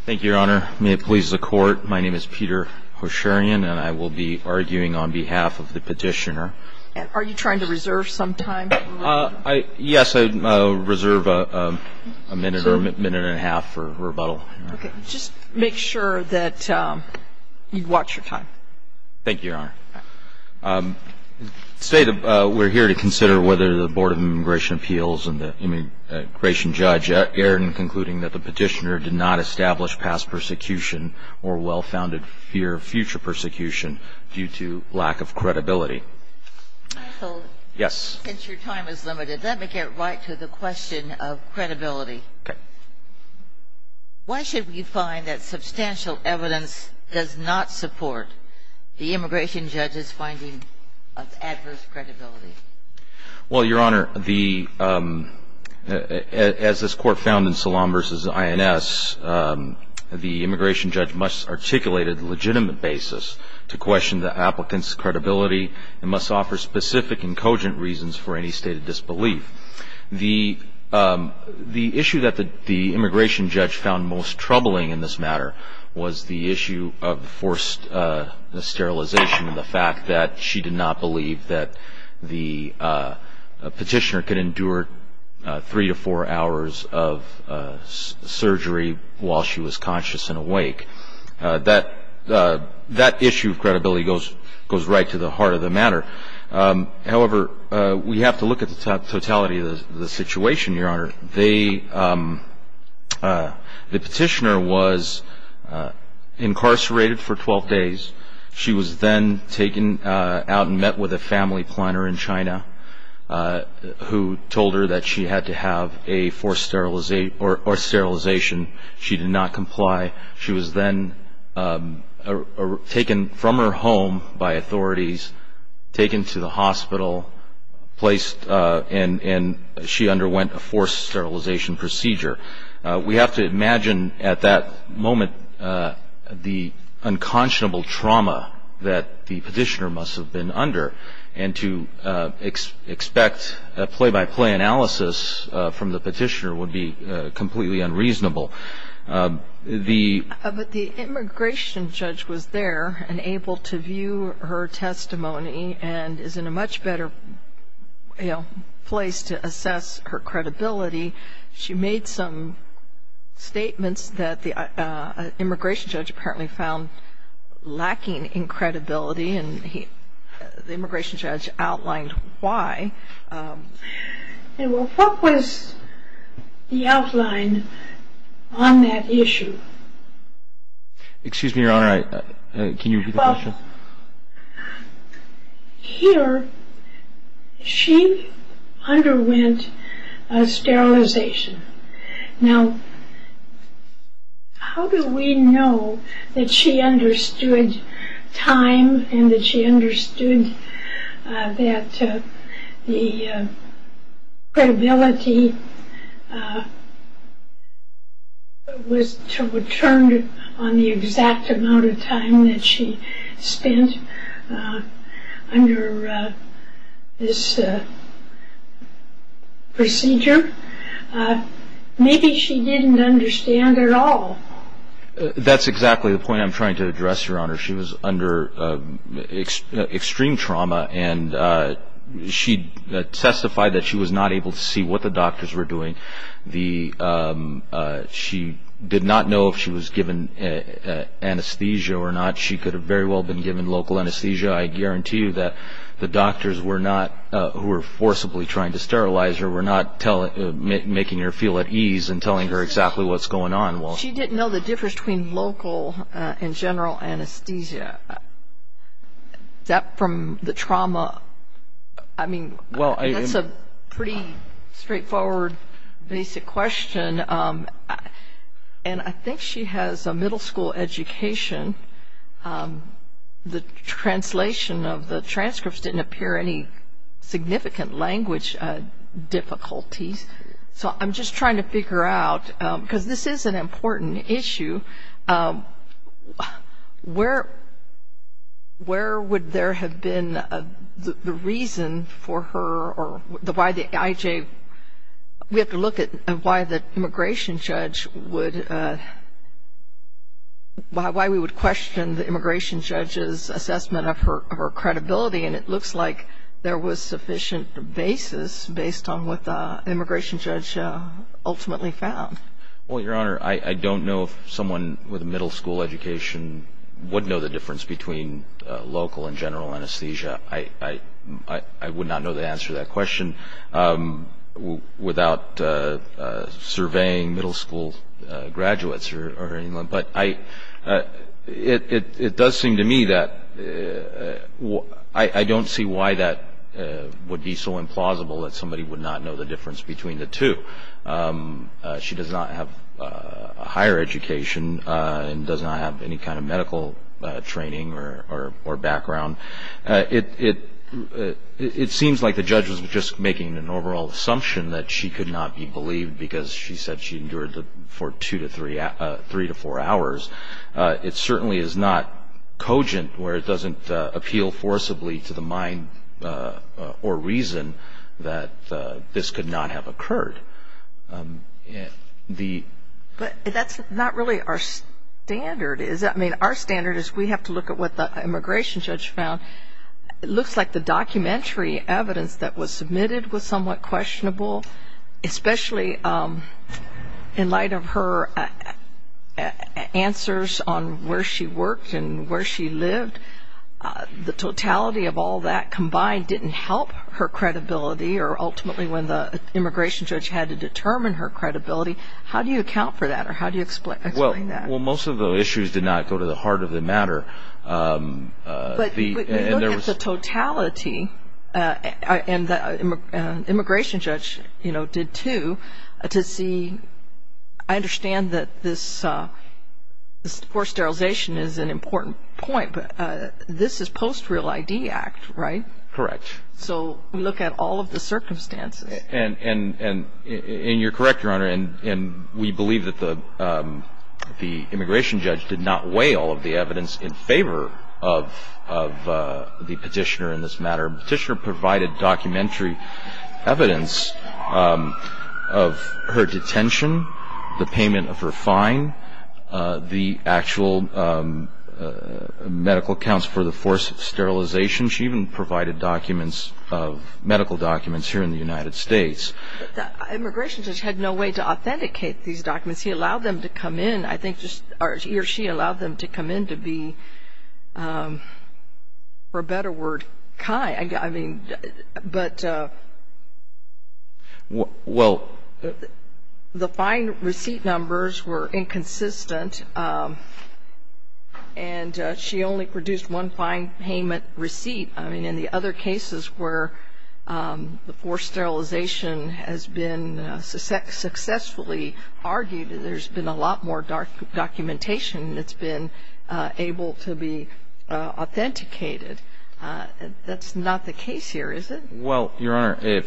Thank you, Your Honor. May it please the Court, my name is Peter Hosherian and I will be arguing on behalf of the petitioner. Are you trying to reserve some time? Yes, I reserve a minute or a minute and a half for rebuttal. Okay, just make sure that you watch your time. Thank you, Your Honor. We're here to consider whether the Board of Immigration Appeals and the immigration judge erred in concluding that the petitioner did not establish past persecution or well-founded fear of future persecution due to lack of credibility. Since your time is limited, let me get right to the question of credibility. Why should we find that substantial evidence does not support the immigration judge's finding of adverse credibility? Well, Your Honor, as this Court found in Salaam v. INS, the immigration judge must articulate a legitimate basis to question the applicant's credibility and must offer specific and cogent reasons for any stated disbelief. The issue that the immigration judge found most troubling in this matter was the issue of forced sterilization and the fact that she did not believe that the petitioner could endure three to four hours of surgery while she was conscious and awake. That issue of credibility goes right to the heart of the matter. However, we have to look at the totality of the situation, Your Honor. The petitioner was incarcerated for 12 days. She was then taken out and met with a family planner in China who told her that she had to have a forced sterilization. She did not comply. She was then taken from her home by authorities, taken to the hospital, placed and she underwent a forced sterilization procedure. We have to imagine at that moment the unconscionable trauma that the petitioner must have been under and to expect a play-by-play analysis from the petitioner would be completely unreasonable. But the immigration judge was there and able to view her testimony and is in a much better place to assess her credibility. She made some statements that the immigration judge apparently found lacking in credibility and the immigration judge outlined why. What was the outline on that issue? Excuse me, Your Honor, can you repeat the question? Well, here she underwent a sterilization. Now, how do we know that she understood time and that she understood that the credibility was to return on the exact amount of time that she spent under this procedure? Maybe she didn't understand at all. That's exactly the point I'm trying to address, Your Honor. She was under extreme trauma and she testified that she was not able to see what the doctors were doing. She did not know if she was given anesthesia or not. She could have very well been given local anesthesia. I guarantee you that the doctors who were forcibly trying to sterilize her were not making her feel at ease in telling her exactly what's going on. She didn't know the difference between local and general anesthesia. That from the trauma, I mean, that's a pretty straightforward basic question. And I think she has a middle school education. The translation of the transcripts didn't appear any significant language difficulties. So I'm just trying to figure out, because this is an important issue, where would there have been the reason for her or why the IJ, we have to look at why the immigration judge would, why we would question the immigration judge's assessment of her credibility. And it looks like there was sufficient basis based on what the immigration judge ultimately found. Well, Your Honor, I don't know if someone with a middle school education would know the difference between local and general anesthesia. I would not know the answer to that question without surveying middle school graduates. But it does seem to me that I don't see why that would be so implausible that somebody would not know the difference between the two. She does not have a higher education and does not have any kind of medical training or background. It seems like the judge was just making an overall assumption that she could not be believed because she said she endured for two to three, three to four hours. It certainly is not cogent where it doesn't appeal forcibly to the mind or reason that this could not have occurred. But that's not really our standard, is it? I mean, our standard is we have to look at what the immigration judge found. It looks like the documentary evidence that was submitted was somewhat questionable, especially in light of her answers on where she worked and where she lived. The totality of all that combined didn't help her credibility or ultimately when the immigration judge had to determine her credibility. How do you account for that or how do you explain that? Well, most of the issues did not go to the heart of the matter. But you look at the totality, and the immigration judge, you know, did too, to see. I understand that this forced sterilization is an important point, but this is post Real ID Act, right? Correct. So we look at all of the circumstances. And you're correct, Your Honor. And we believe that the immigration judge did not weigh all of the evidence in favor of the petitioner in this matter. The petitioner provided documentary evidence of her detention, the payment of her fine, the actual medical accounts for the force of sterilization. She even provided documents of medical documents here in the United States. The immigration judge had no way to authenticate these documents. He allowed them to come in. I think he or she allowed them to come in to be, for a better word, kind. I mean, but the fine receipt numbers were inconsistent, and she only produced one fine payment receipt. I mean, in the other cases where the forced sterilization has been successfully argued, there's been a lot more documentation that's been able to be authenticated. That's not the case here, is it? Well, Your Honor,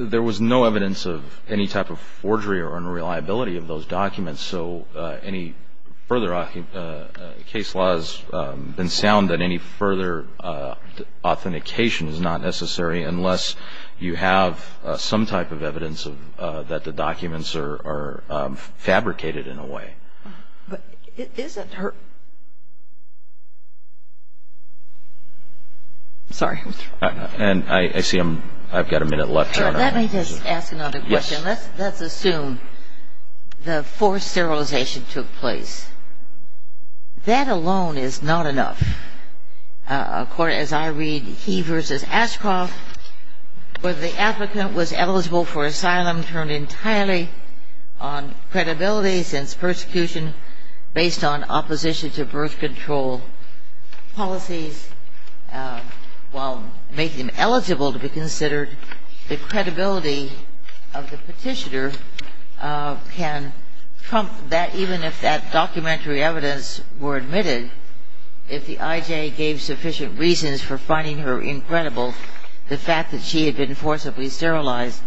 there was no evidence of any type of forgery or unreliability of those documents. So any further case law has been sound, and any further authentication is not necessary unless you have some type of evidence that the documents are fabricated in a way. But is it her? I'm sorry. And I see I've got a minute left, Your Honor. Let me just ask another question. Let's assume the forced sterilization took place. That alone is not enough. As I read, he versus Ashcroft, whether the advocate was eligible for asylum turned entirely on credibility since persecution based on opposition to birth control policies while making him eligible to be considered, the credibility of the petitioner can trump that even if that documentary evidence were admitted, if the IJ gave sufficient reasons for finding her incredible, the fact that she had been forcibly sterilized.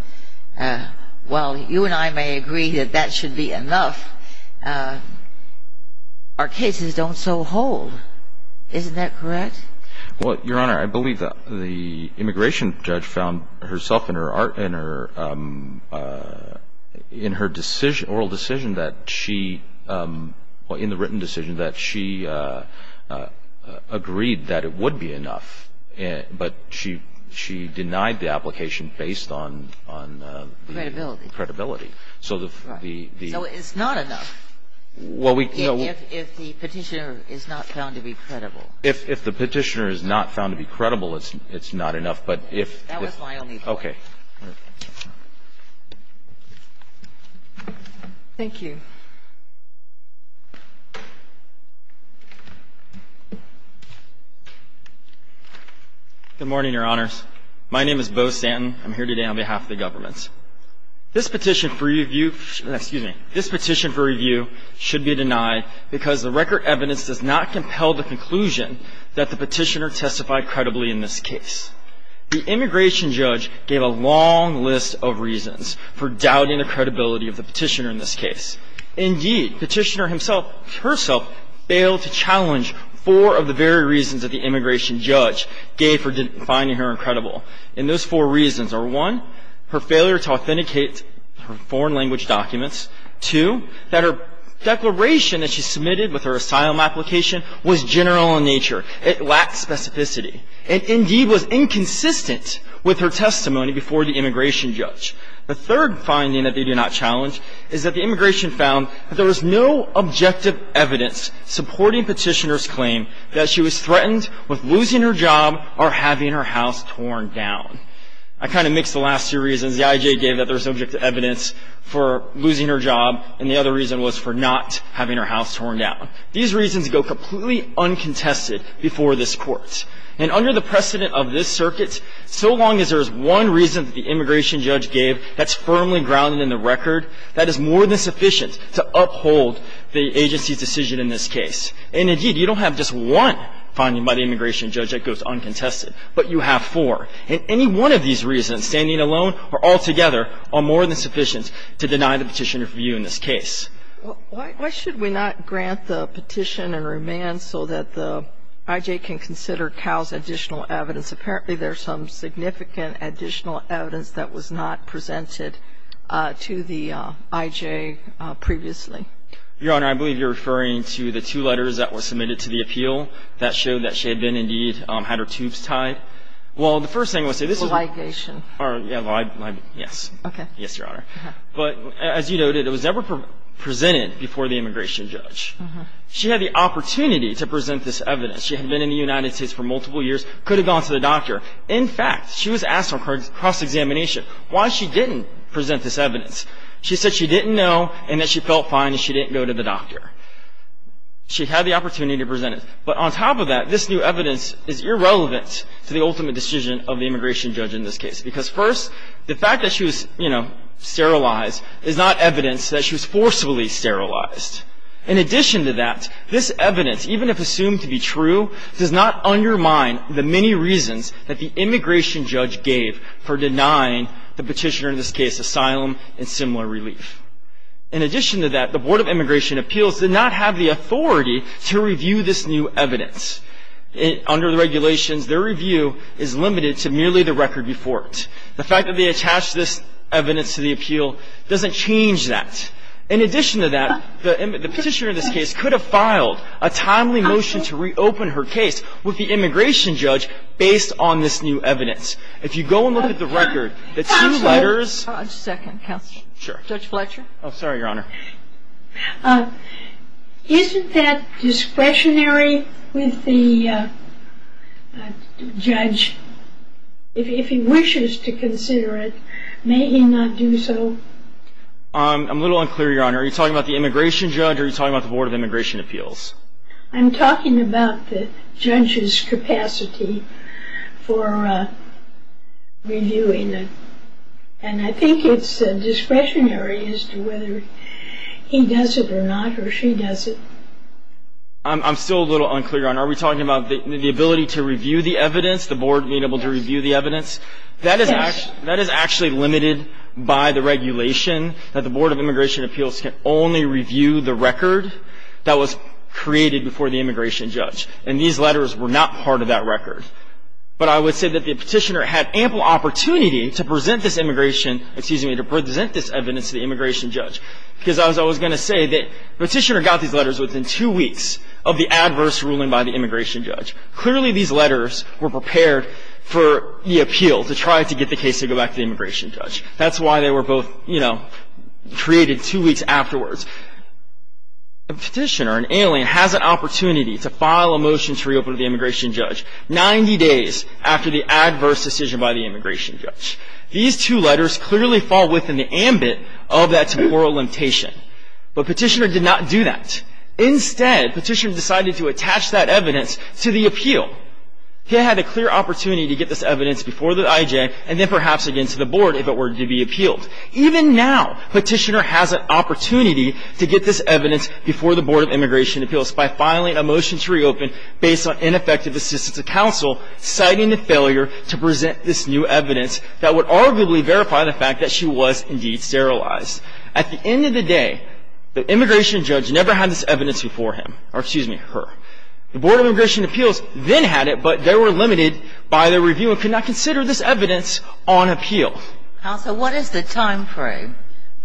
While you and I may agree that that should be enough, our cases don't so hold. Isn't that correct? Well, Your Honor, I believe that the immigration judge found herself in her decision, oral decision that she or in the written decision that she agreed that it would be enough, but she denied the application based on credibility. So it's not enough. Well, we can't If the petitioner is not found to be credible. If the petitioner is not found to be credible, it's not enough, but if That was my only point. Okay. Thank you. Good morning, Your Honors. My name is Beau Santen. I'm here today on behalf of the governments. This petition for review should be denied because the record evidence does not compel the conclusion that the petitioner testified credibly in this case. The immigration judge gave a long list of reasons for doubting the credibility of the petitioner in this case. Indeed, the petitioner herself failed to challenge four of the very reasons that the immigration judge gave for finding her incredible. And those four reasons are, one, her failure to authenticate her foreign language documents. Two, that her declaration that she submitted with her asylum application was general in nature. It lacked specificity. And, indeed, was inconsistent with her testimony before the immigration judge. The third finding that they did not challenge is that the immigration found that there was no objective evidence supporting petitioner's claim that she was threatened with losing her job or having her house torn down. I kind of mixed the last two reasons. The I.J. gave that there was objective evidence for losing her job. And the other reason was for not having her house torn down. These reasons go completely uncontested before this Court. And under the precedent of this circuit, so long as there is one reason that the immigration judge gave that's firmly grounded in the record, that is more than sufficient to uphold the agency's decision in this case. And, indeed, you don't have just one finding by the immigration judge that goes uncontested, but you have four. And any one of these reasons, standing alone or altogether, are more than sufficient to deny the petitioner's view in this case. Why should we not grant the petition and remand so that the I.J. can consider Cal's additional evidence? Apparently, there's some significant additional evidence that was not presented to the I.J. previously. Your Honor, I believe you're referring to the two letters that were submitted to the appeal that showed that she had been, indeed, had her tubes tied. Well, the first thing I want to say, this is ‑‑ A ligation. Yes. Okay. Yes, Your Honor. But, as you noted, it was never presented before the immigration judge. She had the opportunity to present this evidence. She had been in the United States for multiple years, could have gone to the doctor. In fact, she was asked on cross-examination why she didn't present this evidence. She said she didn't know and that she felt fine and she didn't go to the doctor. She had the opportunity to present it. But on top of that, this new evidence is irrelevant to the ultimate decision of the immigration judge in this case because, first, the fact that she was, you know, sterilized is not evidence that she was forcefully sterilized. In addition to that, this evidence, even if assumed to be true, does not undermine the many reasons that the immigration judge gave for denying the petitioner, in this case, asylum and similar relief. In addition to that, the Board of Immigration Appeals did not have the authority to review this new evidence. Under the regulations, their review is limited to merely the record before it. The fact that they attached this evidence to the appeal doesn't change that. In addition to that, the petitioner in this case could have filed a timely motion to reopen her case with the immigration judge based on this new evidence. If you go and look at the record, the two letters ‑‑ Just a second, counsel. Sure. Judge Fletcher? Oh, sorry, Your Honor. Isn't that discretionary with the judge? If he wishes to consider it, may he not do so? I'm a little unclear, Your Honor. Are you talking about the immigration judge or are you talking about the Board of Immigration Appeals? I'm talking about the judge's capacity for reviewing it. And I think it's discretionary as to whether he does it or not or she does it. I'm still a little unclear, Your Honor. Are we talking about the ability to review the evidence, the Board being able to review the evidence? Yes. That is actually limited by the regulation that the Board of Immigration Appeals can only review the record that was created before the immigration judge. And these letters were not part of that record. But I would say that the petitioner had ample opportunity to present this immigration ‑‑ excuse me, to present this evidence to the immigration judge. Because I was going to say that the petitioner got these letters within two weeks of the adverse ruling by the immigration judge. Clearly, these letters were prepared for the appeal to try to get the case to go back to the immigration judge. That's why they were both, you know, created two weeks afterwards. A petitioner, an alien, has an opportunity to file a motion to reopen to the immigration judge 90 days after the adverse decision by the immigration judge. These two letters clearly fall within the ambit of that temporal limitation. But petitioner did not do that. Instead, petitioner decided to attach that evidence to the appeal. He had a clear opportunity to get this evidence before the IJ and then perhaps again to the Board if it were to be appealed. Even now, petitioner has an opportunity to get this evidence before the Board of Immigration Appeals by filing a motion to reopen based on ineffective assistance of counsel citing the failure to present this new evidence that would arguably verify the fact that she was indeed sterilized. At the end of the day, the immigration judge never had this evidence before him. Or excuse me, her. The Board of Immigration Appeals then had it, but they were limited by their review and could not consider this evidence on appeal. Counsel, what is the timeframe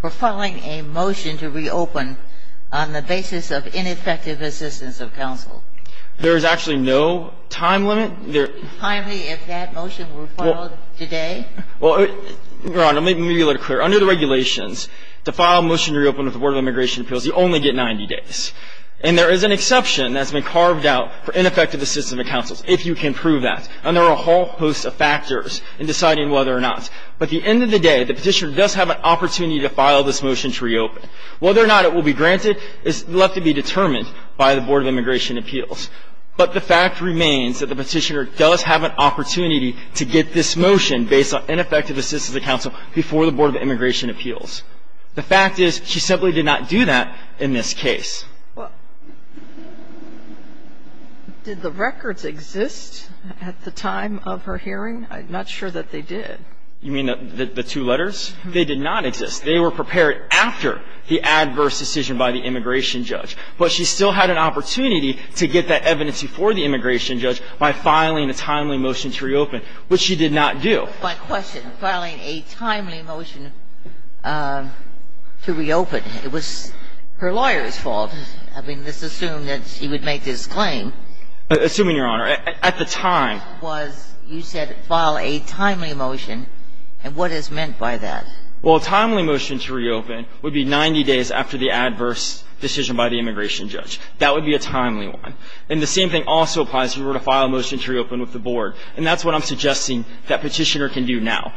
for filing a motion to reopen on the basis of ineffective assistance of counsel? There is actually no time limit. Finally, if that motion were filed today? Well, Your Honor, let me be clear. Under the regulations, to file a motion to reopen with the Board of Immigration Appeals, you only get 90 days. And there is an exception that's been carved out for ineffective assistance of counsel, if you can prove that. And there are a whole host of factors in deciding whether or not. But at the end of the day, the petitioner does have an opportunity to file this motion to reopen. Whether or not it will be granted is left to be determined by the Board of Immigration Appeals. But the fact remains that the petitioner does have an opportunity to get this motion based on ineffective assistance of counsel before the Board of Immigration Appeals. The fact is she simply did not do that in this case. Well, did the records exist at the time of her hearing? I'm not sure that they did. You mean the two letters? They did not exist. They were prepared after the adverse decision by the immigration judge. But she still had an opportunity to get that evidence before the immigration judge by filing a timely motion to reopen, which she did not do. My question, filing a timely motion to reopen, it was her lawyer's fault. I mean, let's assume that she would make this claim. Assuming, Your Honor, at the time. You said file a timely motion. And what is meant by that? Well, a timely motion to reopen would be 90 days after the adverse decision by the immigration judge. That would be a timely one. And the same thing also applies if you were to file a motion to reopen with the board. And that's what I'm suggesting that Petitioner can do now.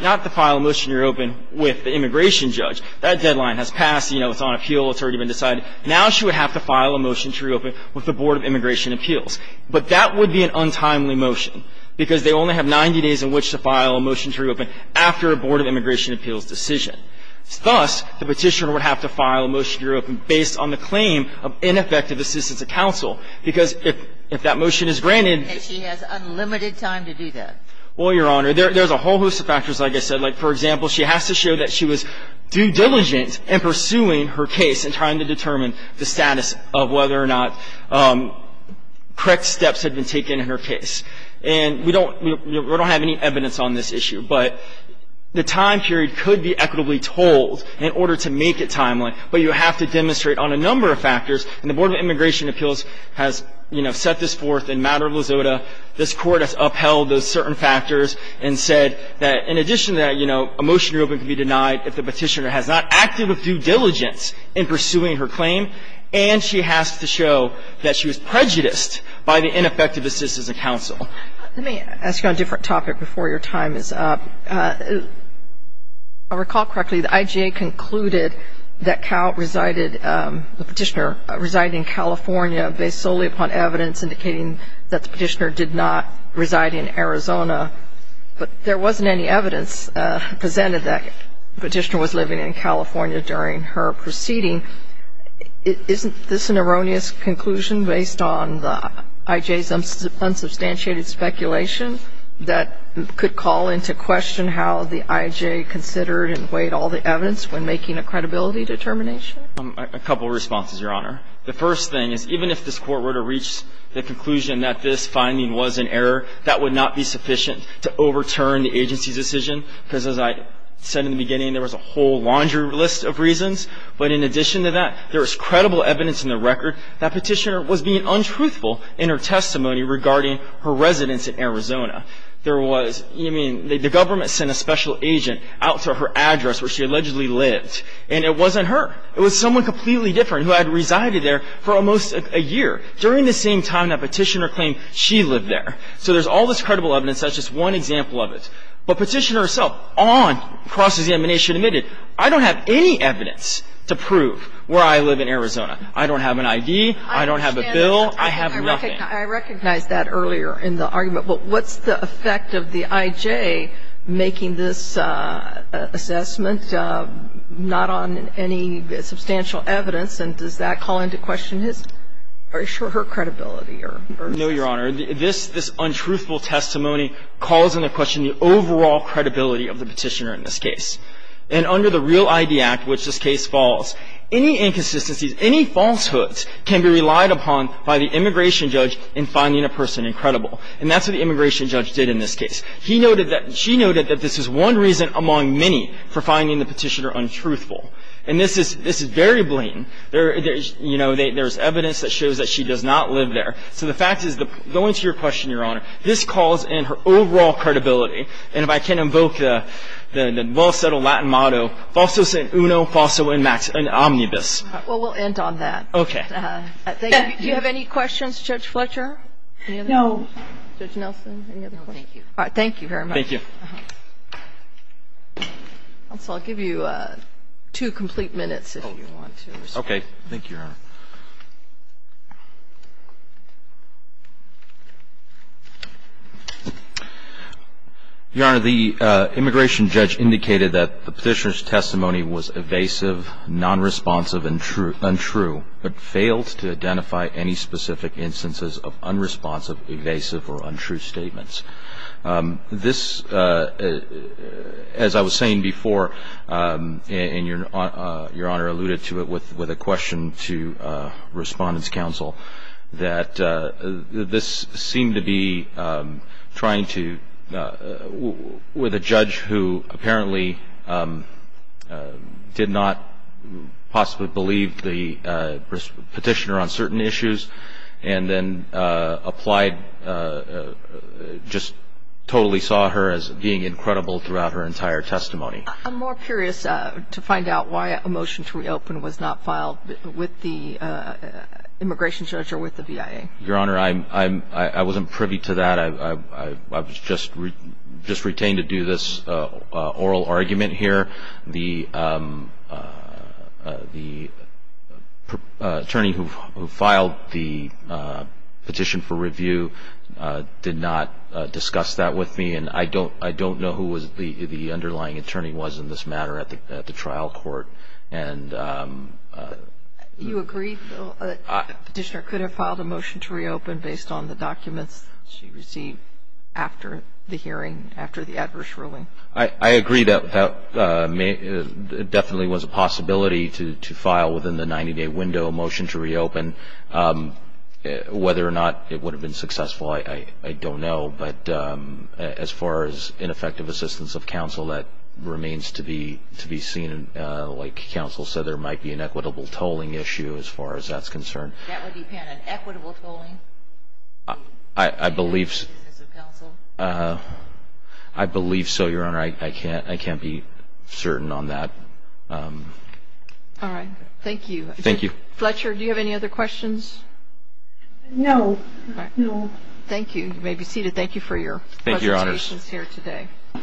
Not to file a motion to reopen with the immigration judge. That deadline has passed. You know, it's on appeal. It's already been decided. Now she would have to file a motion to reopen with the Board of Immigration Appeals. But that would be an untimely motion because they only have 90 days in which to file a motion to reopen after a Board of Immigration Appeals decision. Thus, the Petitioner would have to file a motion to reopen based on the claim of ineffective assistance of counsel because if that motion is granted. And she has unlimited time to do that. Well, Your Honor, there's a whole host of factors, like I said. Like, for example, she has to show that she was due diligence in pursuing her case and trying to determine the status of whether or not correct steps had been taken in her case. And we don't have any evidence on this issue. But the time period could be equitably told in order to make it timely. But you have to demonstrate on a number of factors. And the Board of Immigration Appeals has, you know, set this forth in matter of Lizoda. This Court has upheld those certain factors and said that in addition to that, you know, a motion to reopen could be denied if the Petitioner has not acted with due diligence in pursuing her claim and she has to show that she was prejudiced by the ineffective assistance of counsel. Let me ask you on a different topic before your time is up. I recall correctly the IJA concluded that Cal resided, the Petitioner resided in California based solely upon evidence indicating that the Petitioner did not reside in Arizona. But there wasn't any evidence presented that the Petitioner was living in California during her proceeding. Isn't this an erroneous conclusion based on the IJA's unsubstantiated speculation that could call into question how the IJA considered and weighed all the evidence when making a credibility determination? A couple of responses, Your Honor. The first thing is even if this Court were to reach the conclusion that this finding was an error, that would not be sufficient to overturn the agency's decision. Because as I said in the beginning, there was a whole laundry list of reasons. But in addition to that, there was credible evidence in the record that Petitioner was being untruthful in her testimony regarding her residence in Arizona. There was, I mean, the government sent a special agent out to her address where she allegedly lived, and it wasn't her. It was someone completely different who had resided there for almost a year during the same time that Petitioner claimed she lived there. So there's all this credible evidence. That's just one example of it. But Petitioner herself on cross-examination admitted, I don't have any evidence to prove where I live in Arizona. I don't have an ID. I don't have a bill. I have nothing. I recognize that earlier in the argument. But what's the effect of the I.J. making this assessment not on any substantial evidence, and does that call into question his or her credibility? No, Your Honor. This untruthful testimony calls into question the overall credibility of the Petitioner in this case. And under the Real ID Act, which this case falls, any inconsistencies, any falsehoods can be relied upon by the immigration judge in finding a person incredible. And that's what the immigration judge did in this case. He noted that, she noted that this is one reason among many for finding the Petitioner untruthful. And this is very blatant. There's, you know, there's evidence that shows that she does not live there. So the fact is, going to your question, Your Honor, this calls in her overall credibility. And if I can invoke the well-settled Latin motto, falso san uno, falso in omnibus. Well, we'll end on that. Okay. Do you have any questions, Judge Fletcher? No. Judge Nelson, any other questions? No, thank you. All right. Thank you very much. Thank you. Also, I'll give you two complete minutes if you want to respond. Okay. Thank you, Your Honor. Your Honor, the immigration judge indicated that the Petitioner's testimony was evasive, nonresponsive, and untrue, but failed to identify any specific instances of unresponsive, evasive, or untrue statements. This, as I was saying before, and Your Honor alluded to it with a question to Respondents' Counsel, that this seemed to be trying to, with a judge who apparently did not possibly believe the Petitioner on certain issues and then applied, just totally saw her as being incredible throughout her entire testimony. I'm more curious to find out why a motion to reopen was not filed with the immigration judge or with the VIA. Your Honor, I wasn't privy to that. I was just retained to do this oral argument here. The attorney who filed the petition for review did not discuss that with me, and I don't know who the underlying attorney was in this matter at the trial court. You agree, though, that the Petitioner could have filed a motion to reopen based on the documents she received after the hearing, after the adverse ruling? I agree that it definitely was a possibility to file within the 90-day window a motion to reopen. Whether or not it would have been successful, I don't know. But as far as ineffective assistance of counsel, that remains to be seen. Like counsel said, there might be an equitable tolling issue as far as that's concerned. That would depend on equitable tolling? I believe so, Your Honor. I can't be certain on that. All right. Thank you. Thank you. Fletcher, do you have any other questions? No. No. You may be seated. Thank you for your presentations here today. Thank you, Your Honor.